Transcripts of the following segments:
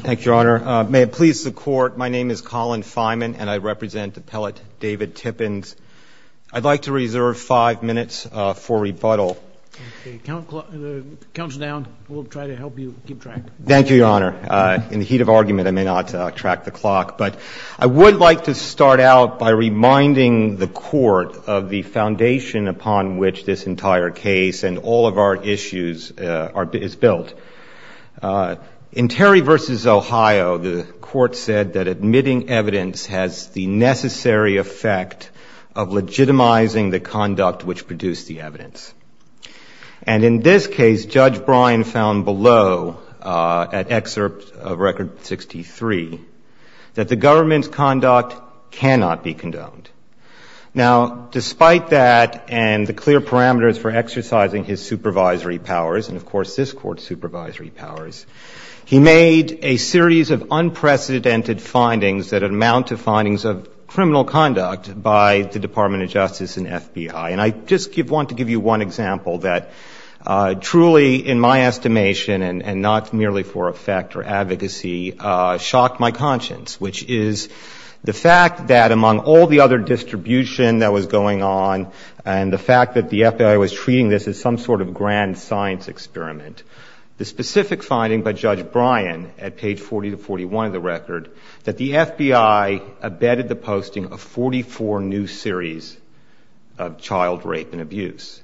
Thank you, Your Honor. May it please the Court, my name is Colin Feynman, and I represent Appellate David Tippens. I'd like to reserve five minutes for rebuttal. Okay, the count's down. We'll try to help you keep track. Thank you, Your Honor. In the heat of argument, I may not track the clock, but I would like to start out by reminding the Court of the foundation upon which this entire case and all of our issues is built. In Terry v. Ohio, the Court said that admitting evidence has the necessary effect of legitimizing the conduct which produced the evidence. And in this case, Judge Bryan found below, at excerpt of Record 63, that the government's conduct cannot be powers, and of course, this Court's supervisory powers. He made a series of unprecedented findings that amount to findings of criminal conduct by the Department of Justice and FBI. And I just want to give you one example that truly, in my estimation, and not merely for effect or advocacy, shocked my conscience, which is the fact that among all the other grand science experiment, the specific finding by Judge Bryan at page 40 to 41 of the record, that the FBI abetted the posting of 44 new series of child rape and abuse.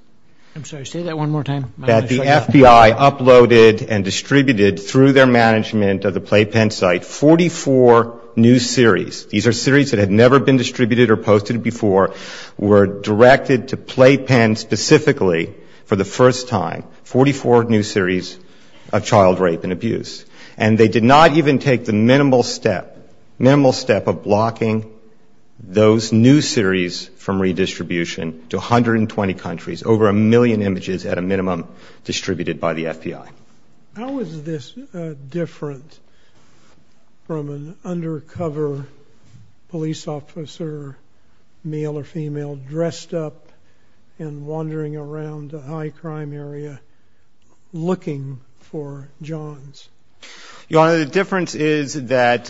I'm sorry, say that one more time. That the FBI uploaded and distributed, through their management of the Playpen site, 44 new series. These are series that had never been distributed or posted before, were directed to Playpen specifically for the first time, 44 new series of child rape and abuse. And they did not even take the minimal step, minimal step, of blocking those new series from redistribution to 120 countries, over a million images at a minimum distributed by the FBI. How is this different from an undercover police officer, male or female, dressed up as an FBI agent, and wandering around a high crime area, looking for johns? Your Honor, the difference is that,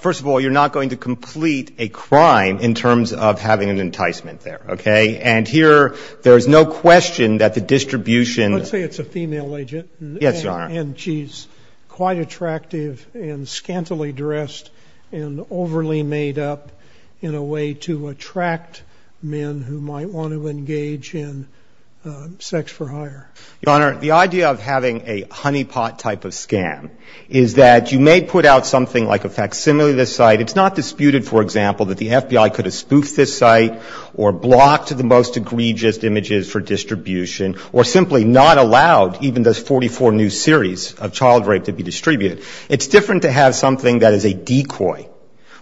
first of all, you're not going to complete a crime in terms of having an enticement there, okay? And here, there's no question that the distribution Let's say it's a female agent, and she's quite attractive and scantily dressed and overly made up in a way to attract men who might want to engage in sex for hire. Your Honor, the idea of having a honeypot type of scam is that you may put out something like a facsimile of this site. It's not disputed, for example, that the FBI could have spoofed this site, or blocked the most egregious images for distribution, or simply not allowed even those 44 new series of child rape to be distributed. It's different to have something that is a decoy,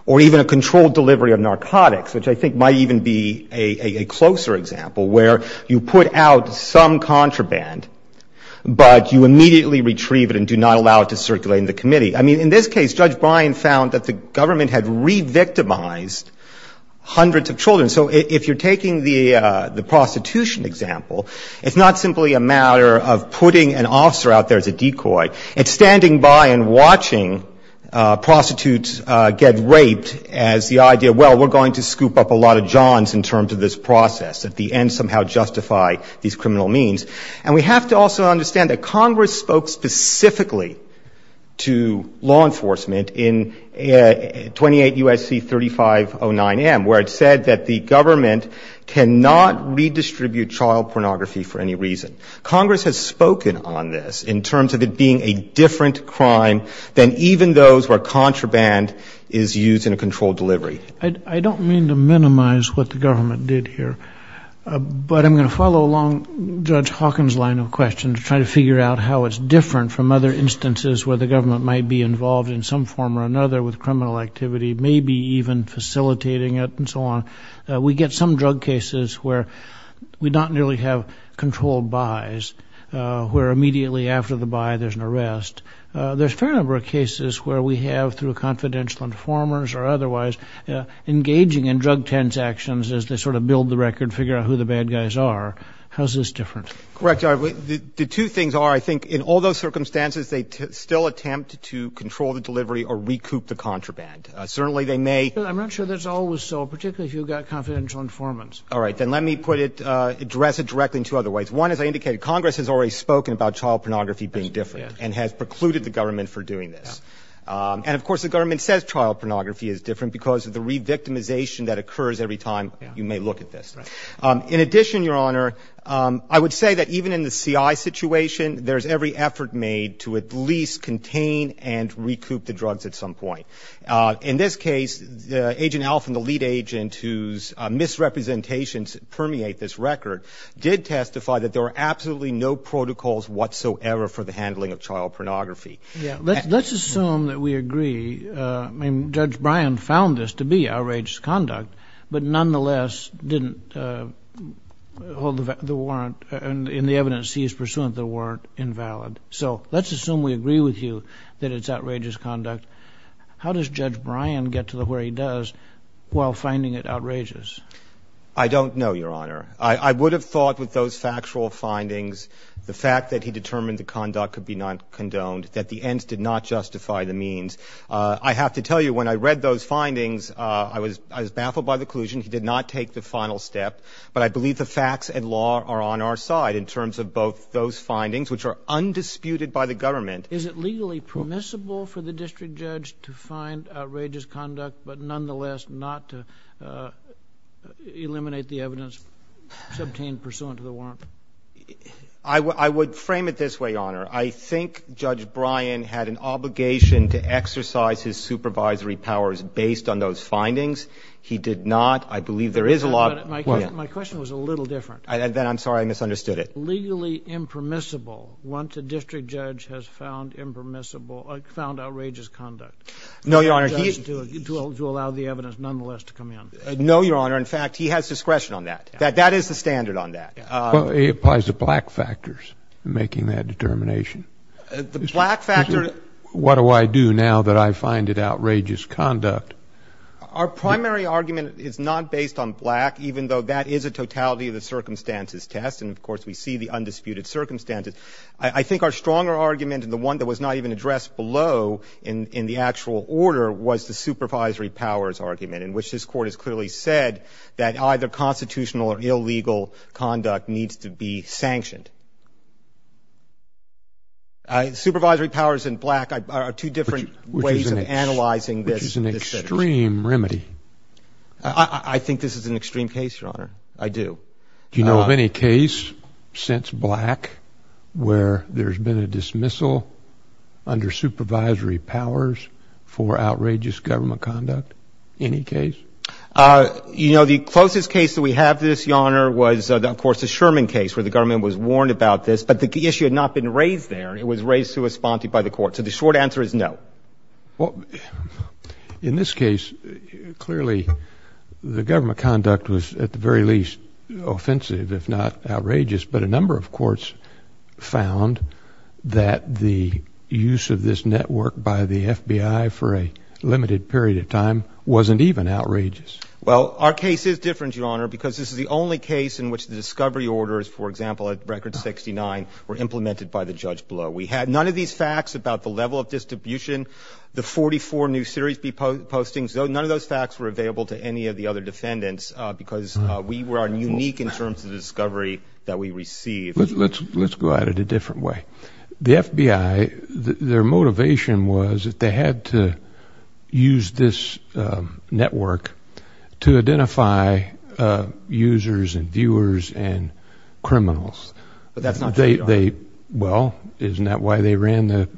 or even a controlled delivery of narcotics, which I think might even be a closer example, where you put out some contraband, but you immediately retrieve it and do not allow it to circulate in the committee. I mean, in this case, Judge Bryan found that the government had re-victimized hundreds of children. So if you're taking the prostitution example, it's not simply a matter of putting an officer out there as a decoy. It's standing by and watching prostitutes get raped as the idea, well, we're going to scoop up a lot of johns in terms of this process. At the end, somehow justify these criminal means. And we have to also understand that Congress spoke specifically to law enforcement in 28 U.S.C. 3509M, where it said that the government cannot redistribute child pornography for any reason. Congress has spoken on this in terms of it being a different crime than even those where contraband is used in a controlled delivery. I don't mean to minimize what the government did here, but I'm going to follow along Judge Hawkins' line of question to try to figure out how it's different from other instances where the government might be involved in some form or another with criminal activity, maybe even facilitating it and so on. We get some drug cases where we don't nearly have controlled buys, where immediately after the buy, there's an arrest. There's a fair number of cases where we have, through confidential informers or otherwise, engaging in drug transactions as they sort of build the record, figure out who the bad guys are. How's this different? Correct. The two things are, I think in all those circumstances, they still attempt to control the delivery or recoup the contraband. Certainly they may. I'm not sure that's always so, particularly if you've got confidential informants. All right. Then let me put it, address it directly in two other ways. One, as I indicated, Congress has already spoken about child pornography being different and has precluded the government for doing this. And of course, the government says child pornography is different because of the re-victimization that occurs every time you may look at this. In addition, Your Honor, I would say that even in the CI situation, there's every effort made to at least contain and recoup the drugs at some point. In this case, Agent Alf and the lead agent, whose misrepresentations permeate this record, did testify that there were absolutely no protocols whatsoever for the handling of child pornography. Let's assume that we agree. I mean, Judge Bryan found this to be outrageous conduct, but nonetheless didn't hold the warrant in the evidence he is pursuant that weren't invalid. So let's assume we agree with you that it's outrageous conduct. How does Judge Bryan get to where he does while finding it outrageous? I don't know, Your Honor. I would have thought with those factual findings, the fact that he determined the conduct could be not condoned, that the ends did not justify the means. I have to tell you, when I read those findings, I was baffled by the collusion. He did not take the final step. But I believe the facts and law are on our side in terms of both those findings, which are undisputed by the government. Is it legally permissible for the district judge to find outrageous conduct, but nonetheless not to eliminate the evidence subtained pursuant to the warrant? I would frame it this way, Your Honor. I think Judge Bryan had an obligation to exercise his supervisory powers based on those findings. He did not. I believe there is a law — My question was a little different. I'm sorry. I misunderstood it. Is it legally impermissible, once a district judge has found impermissible — found outrageous conduct — No, Your Honor. — to allow the evidence nonetheless to come in? No, Your Honor. In fact, he has discretion on that. That is the standard on that. Well, it applies to black factors, making that determination. The black factor — What do I do now that I find it outrageous conduct? Our primary argument is not based on black, even though that is a totality of the circumstances test. And, of course, we see the undisputed circumstances. I think our stronger argument and the one that was not even addressed below in the actual order was the supervisory powers argument, in which this Court has clearly said that either constitutional or illegal conduct needs to be sanctioned. Supervisory powers in black are two different ways of analyzing this — Which is an extreme remedy. I think this is an extreme case, Your Honor. I do. Do you know of any case since black where there's been a dismissal under supervisory powers for outrageous government conduct? Any case? You know, the closest case that we have to this, Your Honor, was, of course, the Sherman case, where the government was warned about this. But the issue had not been raised there. It was raised to us by the Court. So the short answer is no. Well, in this case, clearly, the government conduct was, at the very least, offensive, if not outrageous. But a number of courts found that the use of this network by the FBI for a limited period of time wasn't even outrageous. Well, our case is different, Your Honor, because this is the only case in which the discovery orders, for example, at Record 69, were implemented by the judge below. We had none of these facts about the level of distribution, the 44 new series B postings. None of those facts were available to any of the other defendants because we are unique in terms of the discovery that we received. Let's go at it a different way. The FBI, their motivation was that they had to use this network to identify users and viewers and criminals. But that's not true, Your Honor. They, well, isn't that why they ran the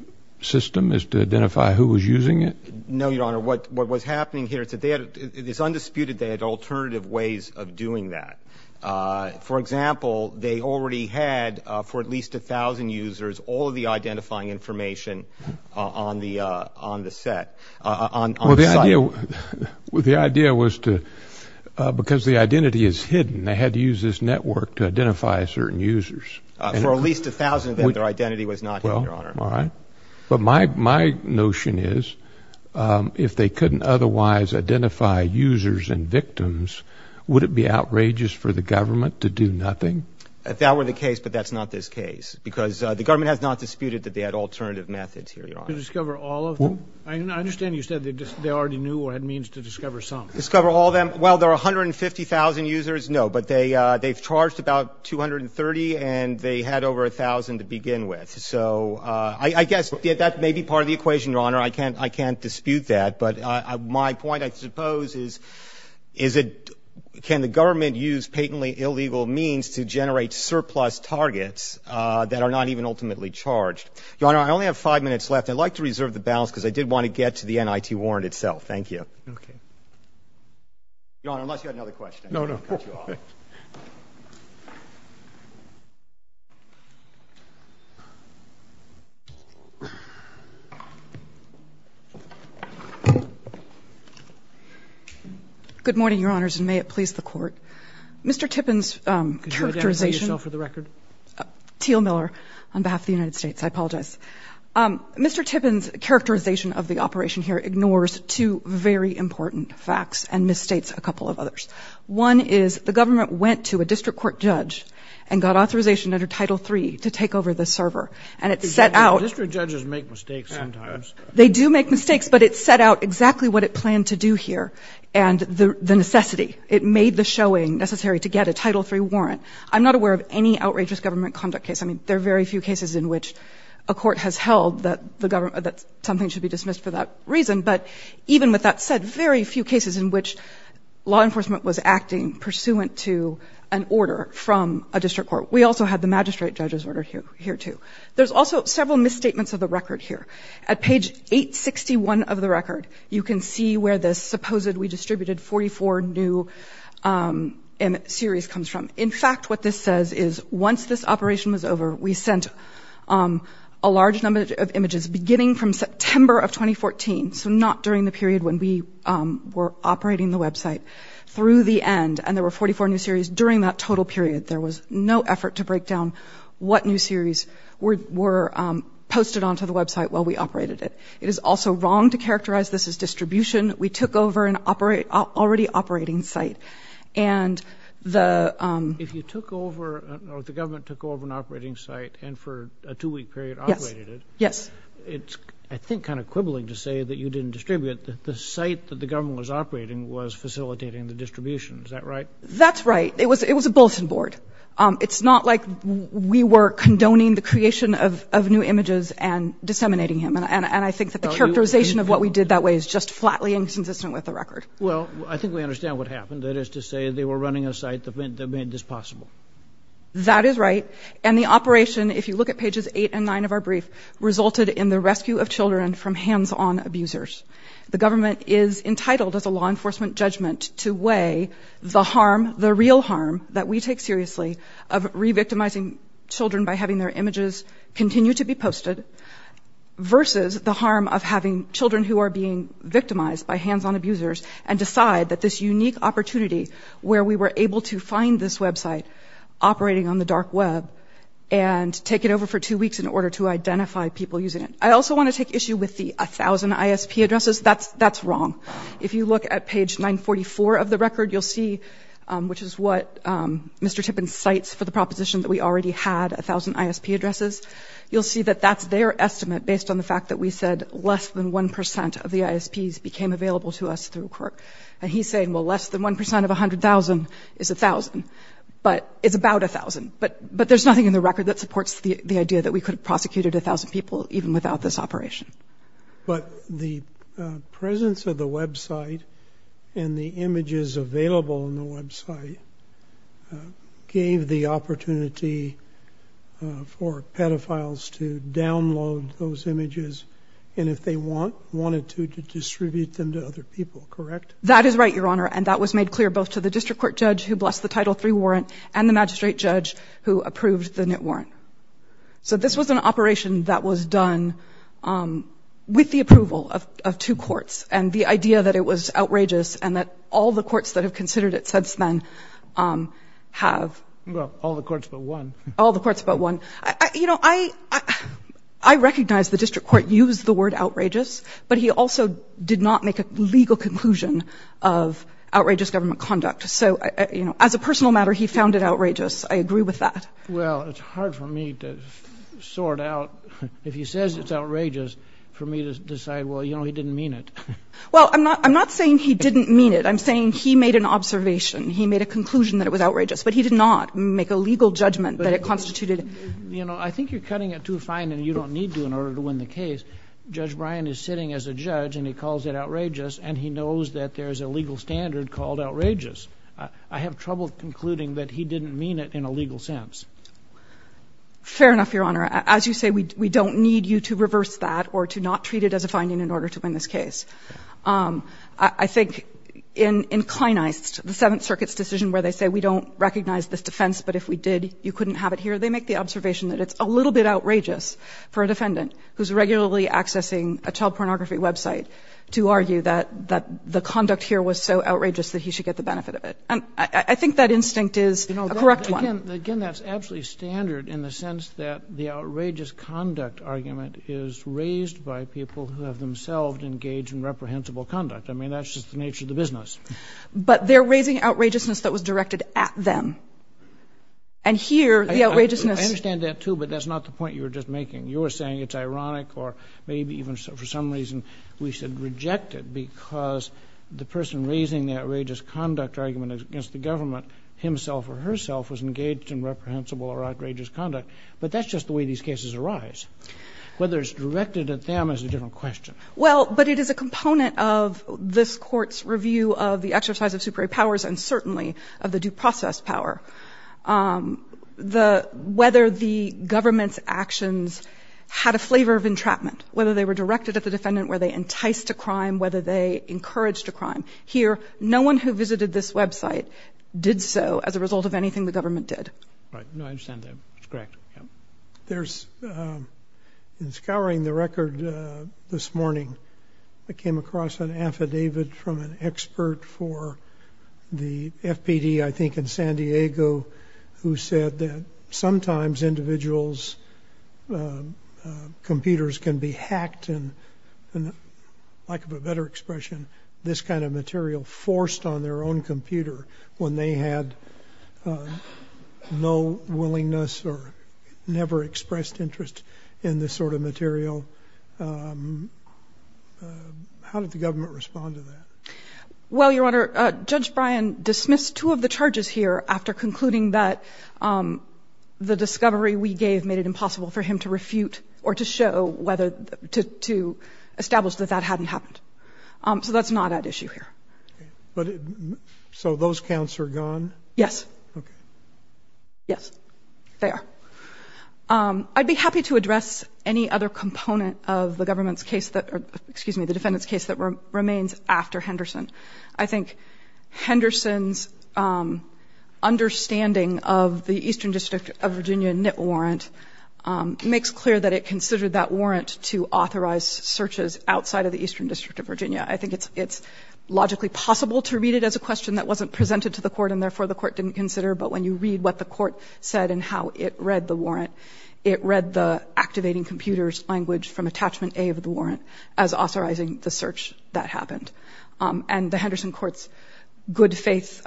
system, is to identify who was using it? No, Your Honor. What was happening here is that they had, it's undisputed, they had alternative ways of doing that. For example, they already had, for at least a thousand users, all of the identifying information on the set, on the site. The idea was to, because the identity is hidden, they had to use this network to identify certain users. For at least a thousand of them, their identity was not hidden, Your Honor. All right. But my notion is, if they couldn't otherwise identify users and victims, would it be outrageous for the government to do nothing? If that were the case, but that's not this case, because the government has not disputed that they had alternative methods here, Your Honor. To discover all of them? I understand you said they already knew or had means to discover some. To discover all of them. Well, there are 150,000 users, no, but they've charged about 230, and they had over a thousand to begin with. So I guess that may be part of the equation, Your Honor. I can't dispute that. But my point, I suppose, is can the government use patently illegal means to generate surplus targets that are not even ultimately charged? Your Honor, I only have five minutes left. I'd like to reserve the balance, because I did want to get to the NIT warrant itself. Thank you. Okay. Your Honor, unless you have another question, I'm going to cut you off. No, no. Good morning, Your Honors, and may it please the Court. Mr. Tippin's characterization Could you identify yourself for the record? Teal Miller, on behalf of the United States. I apologize. Mr. Tippin's characterization of the operation here ignores two very important facts and misstates a couple of others. One is the government went to a district court judge and got authorization under Title III to take over the server, and it set out District judges make mistakes sometimes. They do make mistakes, but it set out exactly what it planned to do here and the necessity. It made the showing necessary to get a Title III warrant. I'm not aware of any outrageous government conduct case. I mean, there are very few cases in which a court has held that something should be dismissed for that reason, but even with that said, very few cases in which law enforcement was acting pursuant to an order from a district court. We also had the magistrate judge's order here, too. There's also several misstatements of the record here. At page 861 of the record, you can see where this supposed we distributed 44 new series comes from. In fact, what this says is once this operation was over, we sent a large number of images beginning from September of 2014, so not during the period when we were operating the website, through the end, and there were 44 new series during that total period. There was no effort to break down what new series were posted onto the website while we operated it. It is also wrong to characterize this as distribution. We took over an already operating site, and the... If you took over, or if the government took over an operating site and for a two-week period operated it, it's, I think, kind of quibbling to say that you didn't distribute it. The site that the government was operating was facilitating the distribution. Is that right? That's right. It was a bulletin board. It's not like we were condoning the creation of new images and disseminating them, and I think that the characterization of what we did that way is just flatly inconsistent with the record. Well, I think we understand what happened. That is to say, they were running a site that made this possible. That is right, and the operation, if you look at pages eight and nine of our brief, resulted in the rescue of children from hands-on abusers. The government is entitled, as a law enforcement judgment, to weigh the harm, the real harm, that we take seriously of re-victimizing children by having their images continue to be posted versus the harm of having children who are being victimized by hands-on abusers and decide that this unique opportunity where we were able to find this website operating on the dark web and take it over for two weeks in order to identify people using it. I also want to take issue with the 1,000 ISP addresses. That's wrong. If you look at page 944 of the record, you'll see, which is what Mr. Tippin cites for the proposition that we already had 1,000 ISP addresses, you'll see that that's their estimate based on the ISPs became available to us through Quirk. And he's saying, well, less than 1% of 100,000 is 1,000, but it's about 1,000. But there's nothing in the record that supports the idea that we could have prosecuted 1,000 people even without this operation. But the presence of the website and the images available on the website gave the opportunity for pedophiles to download those images, and if they wanted to, to distribute them to other people, correct? That is right, Your Honor. And that was made clear both to the district court judge who blessed the Title III warrant and the magistrate judge who approved the NIT warrant. So this was an operation that was done with the approval of two courts. And the idea that it was outrageous and that all the courts that have considered it since then have... Well, all the courts but one. All the courts but one. You know, I recognize the district court used the word outrageous, but he also did not make a legal conclusion of outrageous government conduct. So, you know, as a personal matter, he found it outrageous. I agree with that. Well, it's hard for me to sort out, if he says it's outrageous, for me to decide, well, you know, he didn't mean it. Well, I'm not saying he didn't mean it. I'm saying he made an observation. He made a conclusion that it was outrageous. But he did not make a legal judgment that it constituted... You know, I think you're cutting it too fine and you don't need to in order to win the case. Judge Bryan is sitting as a judge and he calls it outrageous and he knows that there's a legal standard called outrageous. I have trouble concluding that he didn't mean it in a legal sense. Fair enough, Your Honor. As you say, we don't need you to reverse that or to not treat it as a finding in order to win this case. I think in Inclinized, the Seventh Circuit's decision where they say, we don't recognize this defense, but if we did, you couldn't have it here. They make the observation that it's a little bit outrageous for a defendant who's regularly accessing a child pornography website to argue that the conduct here was so outrageous that he should get the benefit of it. And I think that instinct is a correct one. Again, that's absolutely standard in the sense that the outrageous conduct argument is raised by people who have themselves engaged in reprehensible conduct. I mean, that's just the nature of the business. But they're raising outrageousness that was directed at them. And here, the outrageousness — I understand that, too, but that's not the point you were just making. You were saying it's ironic or maybe even for some reason we should reject it because the person raising the outrageous conduct argument against the government himself or herself was engaged in reprehensible or outrageous conduct. But that's just the way these cases arise. Whether it's directed at them is a different question. Well, but it is a component of this Court's review of the exercise of supra-powers and certainly of the due process power. Whether the government's actions had a flavor of entrapment, whether they were directed at the defendant, whether they enticed a crime, whether they encouraged a crime. Here, no one who visited this website did so as a result of anything the government did. Right. No, I understand that. Correct. There's, in scouring the record this morning, I came across an affidavit from an expert for the FPD, I think in San Diego, who said that sometimes individuals' computers can be hacked and, for lack of a better expression, this kind of material forced on their own never expressed interest in this sort of material. How did the government respond to that? Well, Your Honor, Judge Bryan dismissed two of the charges here after concluding that the discovery we gave made it impossible for him to refute or to show whether to establish that that hadn't happened. So that's not at issue here. So those counts are gone? Yes. Yes, they are. I'd be happy to address any other component of the government's case that, excuse me, the defendant's case that remains after Henderson. I think Henderson's understanding of the Eastern District of Virginia NIT warrant makes clear that it considered that warrant to authorize searches outside of the Eastern District of Virginia. I think it's logically possible to read it as a question that wasn't presented to the Court and, therefore, the Court didn't consider. But when you read what the Court said and how it read the warrant, it read the activating computer's language from Attachment A of the warrant as authorizing the search that happened. And the Henderson court's good-faith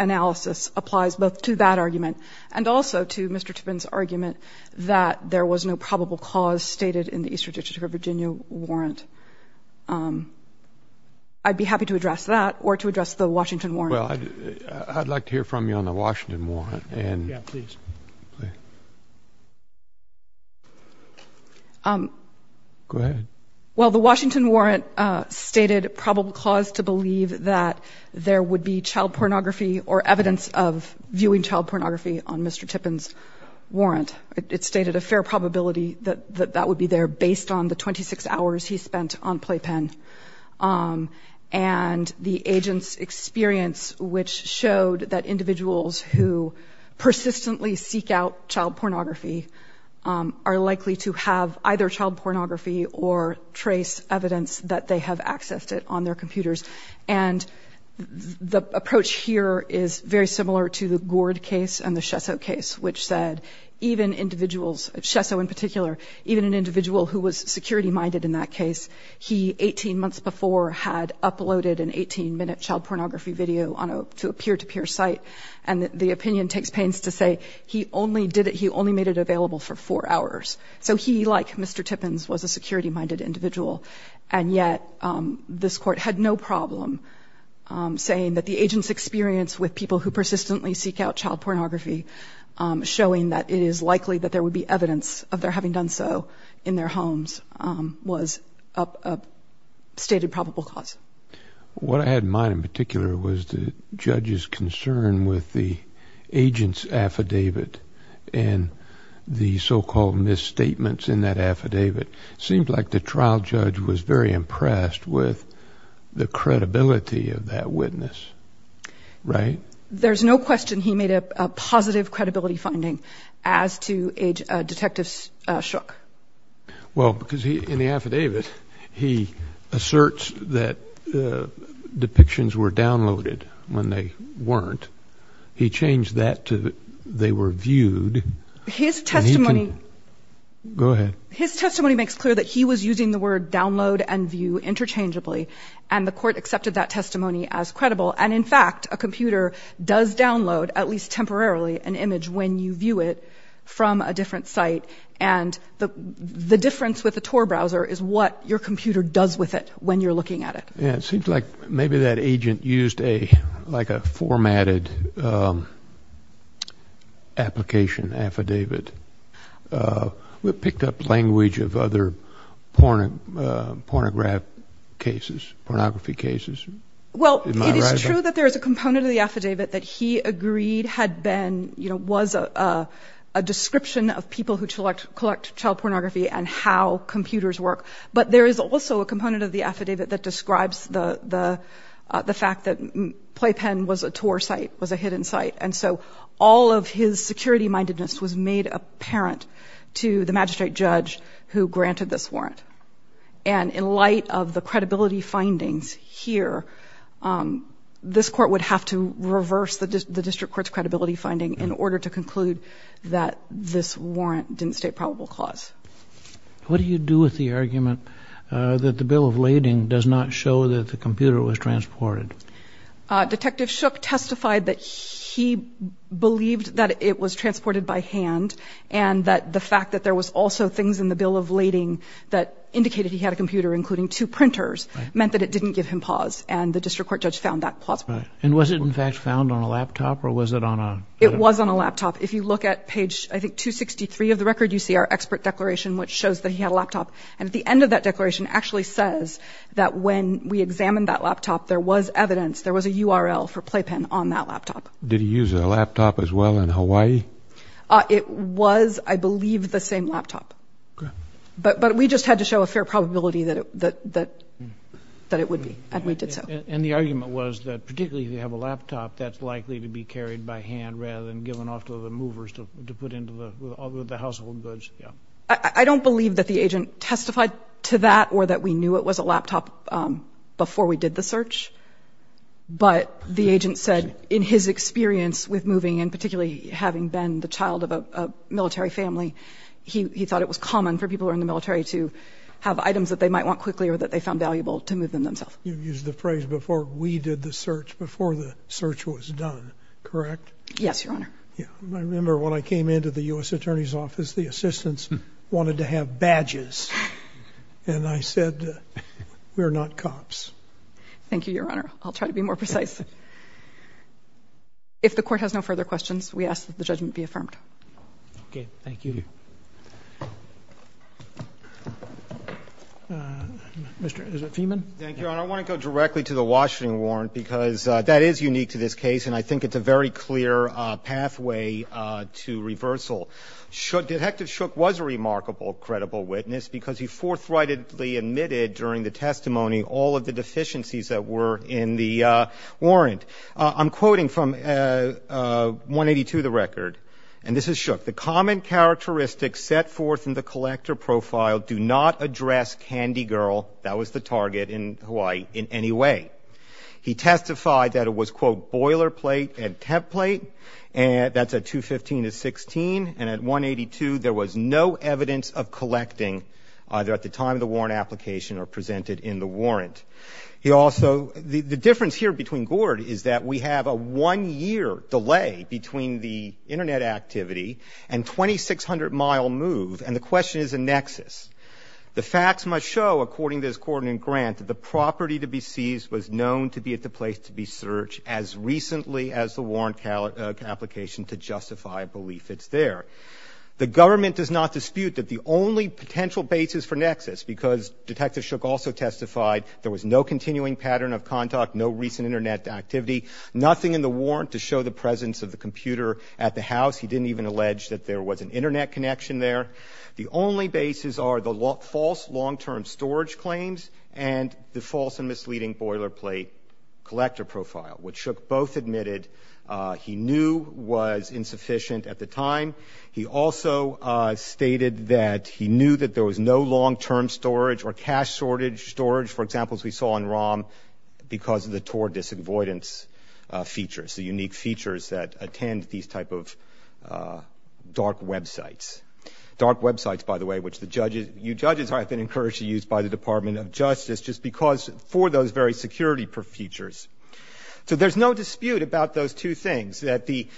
analysis applies both to that argument and also to Mr. Tippin's argument that there was no probable cause stated in the Eastern District of Virginia warrant. I'd be happy to address that or to address the Washington warrant. Well, I'd like to hear from you on the Washington warrant, and — Yeah, please. Please. Go ahead. Well, the Washington warrant stated probable cause to believe that there would be child pornography or evidence of viewing child pornography on Mr. Tippin's warrant. It stated a fair probability that that would be there based on the 26 hours he spent on playpen. And the agent's experience, which showed that individuals who persistently seek out child pornography are likely to have either child pornography or trace evidence that they have accessed it on their computers. And the approach here is very similar to the Gourd case and the Shesso case, which said even individuals — Shesso in particular — even an individual who was security-minded in that case, he, 18 months before, had uploaded an 18-minute child pornography video to a peer-to-peer site. And the opinion takes pains to say he only did it — he only made it available for four hours. So he, like Mr. Tippin's, was a security-minded individual. And yet, this Court had no problem saying that the agent's experience with people who persistently seek out child pornography, showing that it is likely that there would be evidence of their having done so in their homes, was a stated probable cause. What I had in mind in particular was the judge's concern with the agent's affidavit and the so-called misstatements in that affidavit. It seemed like the trial judge was very impressed with the credibility of that witness, right? There's no question he made a positive credibility finding as to a detective's shook. Well, because in the affidavit, he asserts that the depictions were downloaded when they weren't. He changed that to they were viewed. His testimony — Go ahead. His testimony makes clear that he was using the word download and view interchangeably, and the Court accepted that testimony as credible. And in fact, a computer does download, at least temporarily, an image when you view it from a different site. And the difference with a Tor browser is what your computer does with it when you're looking at it. Yeah, it seems like maybe that agent used a — like a formatted application affidavit that picked up language of other pornograph cases, pornography cases. Well, it is true that there is a component of the affidavit that he agreed had been — you know, was a description of people who collect child pornography and how computers work. But there is also a component of the affidavit that describes the fact that Playpen was a hidden site, and so all of his security-mindedness was made apparent to the magistrate judge who granted this warrant. And in light of the credibility findings here, this Court would have to reverse the District Court's credibility finding in order to conclude that this warrant didn't state probable cause. What do you do with the argument that the bill of lading does not show that the computer was transported? Detective Shook testified that he believed that it was transported by hand and that the fact that there was also things in the bill of lading that indicated he had a computer, including two printers, meant that it didn't give him pause. And the District Court judge found that plausible. And was it, in fact, found on a laptop, or was it on a — It was on a laptop. If you look at page, I think, 263 of the record, you see our expert declaration, which shows that he had a laptop. And at the end of that declaration actually says that when we examined that laptop, there was evidence, there was a URL for Playpen on that laptop. Did he use a laptop as well in Hawaii? It was, I believe, the same laptop. But we just had to show a fair probability that it would be, and we did so. And the argument was that particularly if you have a laptop, that's likely to be carried by hand rather than given off to the movers to put into the — all the household goods. I don't believe that the agent testified to that or that we knew it was a laptop before we did the search. But the agent said in his experience with moving, and particularly having been the child of a military family, he thought it was common for people who are in the military to have items that they might want quickly or that they found valuable to move them themselves. You used the phrase, before we did the search, before the search was done, correct? Yes, Your Honor. I remember when I came into the U.S. Attorney's Office, the assistants wanted to have badges. And I said, we're not cops. Thank you, Your Honor. I'll try to be more precise. If the Court has no further questions, we ask that the judgment be affirmed. Okay. Thank you. Thank you. Mr. — is it Feiman? Thank you, Your Honor. I want to go directly to the Washington warrant because that is unique to this case, and I to reversal. Detective Shook was a remarkable, credible witness because he forthrightedly admitted during the testimony all of the deficiencies that were in the warrant. I'm quoting from 182 of the record, and this is Shook, the common characteristics set forth in the collector profile do not address Candy Girl — that was the target — in Hawaii in any way. He testified that it was, quote, boilerplate and temp plate, and that's at 215 to 16. And at 182, there was no evidence of collecting either at the time of the warrant application or presented in the warrant. He also — the difference here between Gord is that we have a one-year delay between the Internet activity and 2,600-mile move, and the question is a nexus. The facts must show, according to his court in Grant, that the property to be seized was known to be at the place to be searched as recently as the warrant application to justify belief it's there. The government does not dispute that the only potential basis for nexus, because Detective Shook also testified there was no continuing pattern of contact, no recent Internet activity, nothing in the warrant to show the presence of the computer at the house. He didn't even allege that there was an Internet connection there. The only bases are the false long-term storage claims and the false and misleading boilerplate collector profile, which Shook both admitted he knew was insufficient at the time. He also stated that he knew that there was no long-term storage or cache storage, for example, as we saw in ROM, because of the Tor disavoidance features, the unique features that attend to these type of dark websites. Dark websites, by the way, which the judges have been encouraged to use by the Department of Justice just because for those very security features. So there's no dispute about those two things, that the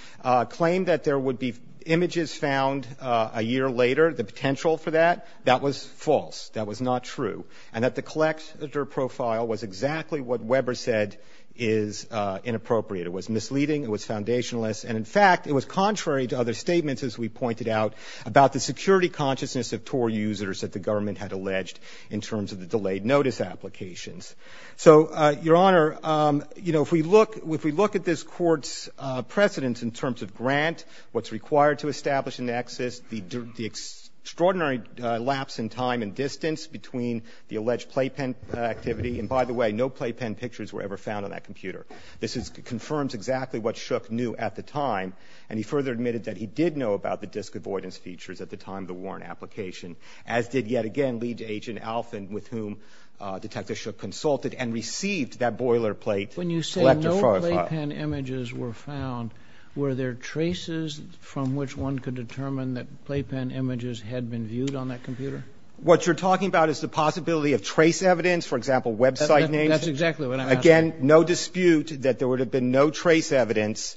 claim that there would be images found a year later, the potential for that, that was false, that was not true, and that the collector profile was exactly what Weber said is inappropriate. It was misleading, it was foundationalist, and in fact, it was contrary to other statements, as we pointed out, about the security consciousness of Tor users that the government had alleged in terms of the delayed notice applications. So, Your Honor, you know, if we look at this Court's precedence in terms of grant, what's required to establish a nexus, the extraordinary lapse in time and distance between the alleged playpen activity, and by the way, no playpen pictures were ever what Shook knew at the time, and he further admitted that he did know about the disavoidance features at the time of the Warren application, as did yet again lead to Agent Alfin, with whom Detective Shook consulted and received that boilerplate collector profile. When you say no playpen images were found, were there traces from which one could determine that playpen images had been viewed on that computer? What you're talking about is the possibility of trace evidence, for example, website names. That's exactly what I'm asking. Again, no dispute that there would have been no trace evidence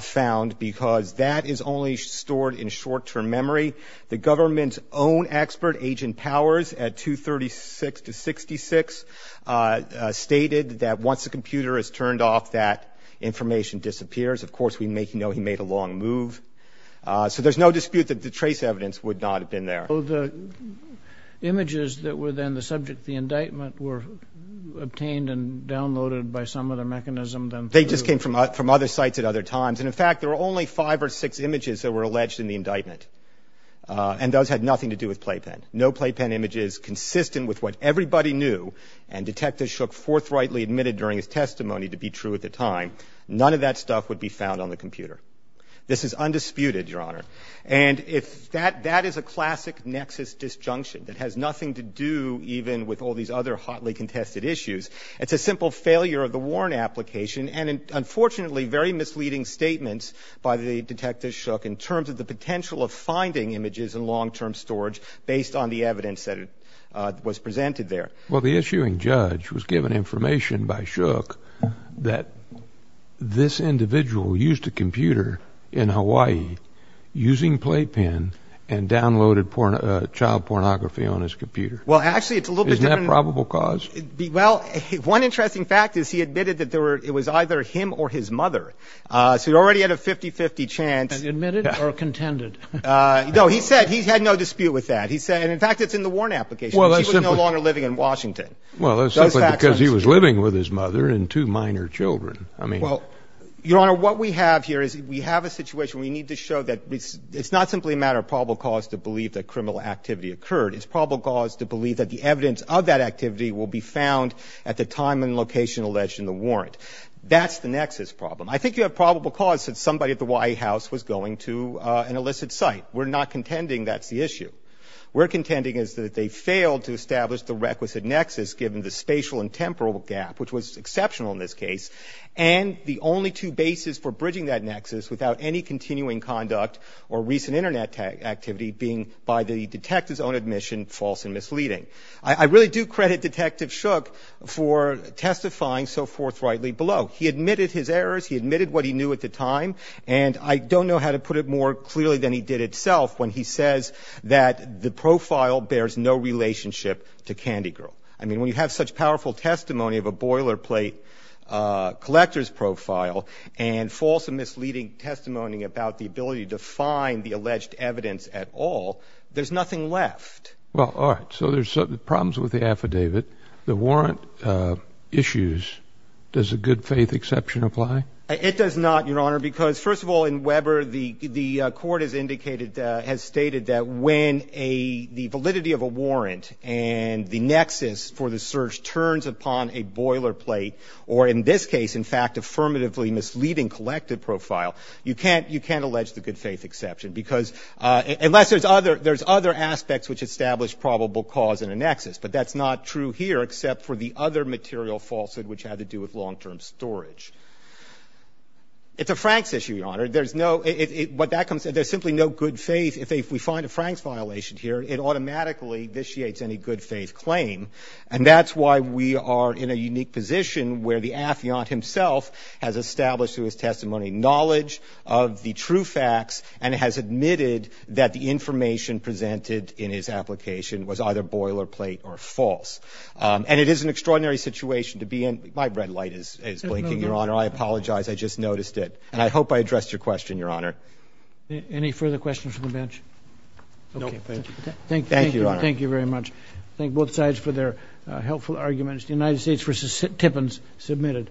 found because that is only stored in short-term memory. The government's own expert, Agent Powers, at 236 to 66, stated that once the computer is turned off, that information disappears. Of course, we know he made a long move. So there's no dispute that the trace evidence would not have been there. So the images that were then the subject of the indictment were obtained and downloaded by some other mechanism than through... They just came from other sites at other times, and in fact, there were only five or six images that were alleged in the indictment, and those had nothing to do with playpen. No playpen images consistent with what everybody knew, and Detective Shook forthrightly admitted during his testimony to be true at the time, none of that stuff would be found on the computer. This is undisputed, Your Honor. And if that is a classic nexus disjunction that has nothing to do even with all these other hotly contested issues, it's a simple failure of the Warren application, and unfortunately very misleading statements by the Detective Shook in terms of the potential of finding images in long-term storage based on the evidence that was presented there. Well, the issuing judge was given information by Shook that this individual used a computer in Hawaii using playpen and downloaded child pornography on his computer. Well, actually, it's a little bit different. Isn't that probable cause? Well, one interesting fact is he admitted that it was either him or his mother, so he already had a 50-50 chance. Admit it or contend it? No, he said he had no dispute with that. He said, and in fact, it's in the Warren application. Well, that's simply... He was no longer living in Washington. Well, that's simply because he was living with his mother and two minor children. I mean... Your Honor, what we have here is we have a situation we need to show that it's not simply a matter of probable cause to believe that criminal activity occurred. It's probable cause to believe that the evidence of that activity will be found at the time and location alleged in the warrant. That's the nexus problem. I think you have probable cause that somebody at the White House was going to an illicit site. We're not contending that's the issue. We're contending is that they failed to establish the requisite nexus given the spatial and I really do credit Detective Shook for testifying so forthrightly below. He admitted his errors, he admitted what he knew at the time, and I don't know how to put it more clearly than he did itself when he says that the profile bears no relationship to Candy Girl. I mean, when you have such powerful testimony of a boilerplate collector's profile and false and misleading testimony about the ability to find the alleged evidence at all, there's nothing left. Well, all right. So there's problems with the affidavit. The warrant issues, does a good faith exception apply? It does not, Your Honor, because first of all, in Weber, the court has indicated, has turns upon a boilerplate, or in this case, in fact, affirmatively misleading collected profile, you can't allege the good faith exception because unless there's other aspects which establish probable cause in a nexus, but that's not true here except for the other material falsehood which had to do with long-term storage. It's a Franks issue, Your Honor. There's no, what that comes, there's simply no good faith. If we find a Franks violation here, it automatically vitiates any good faith claim, and that's why we are in a unique position where the affiant himself has established through his testimony knowledge of the true facts and has admitted that the information presented in his application was either boilerplate or false, and it is an extraordinary situation to be in. My red light is blinking, Your Honor. I apologize. I just noticed it, and I hope I addressed your question, Your Honor. Any further questions from the bench? No, thank you. Thank you, Your Honor. Thank you very much. Thank both sides for their helpful arguments. The United States v. Tippins, submitted.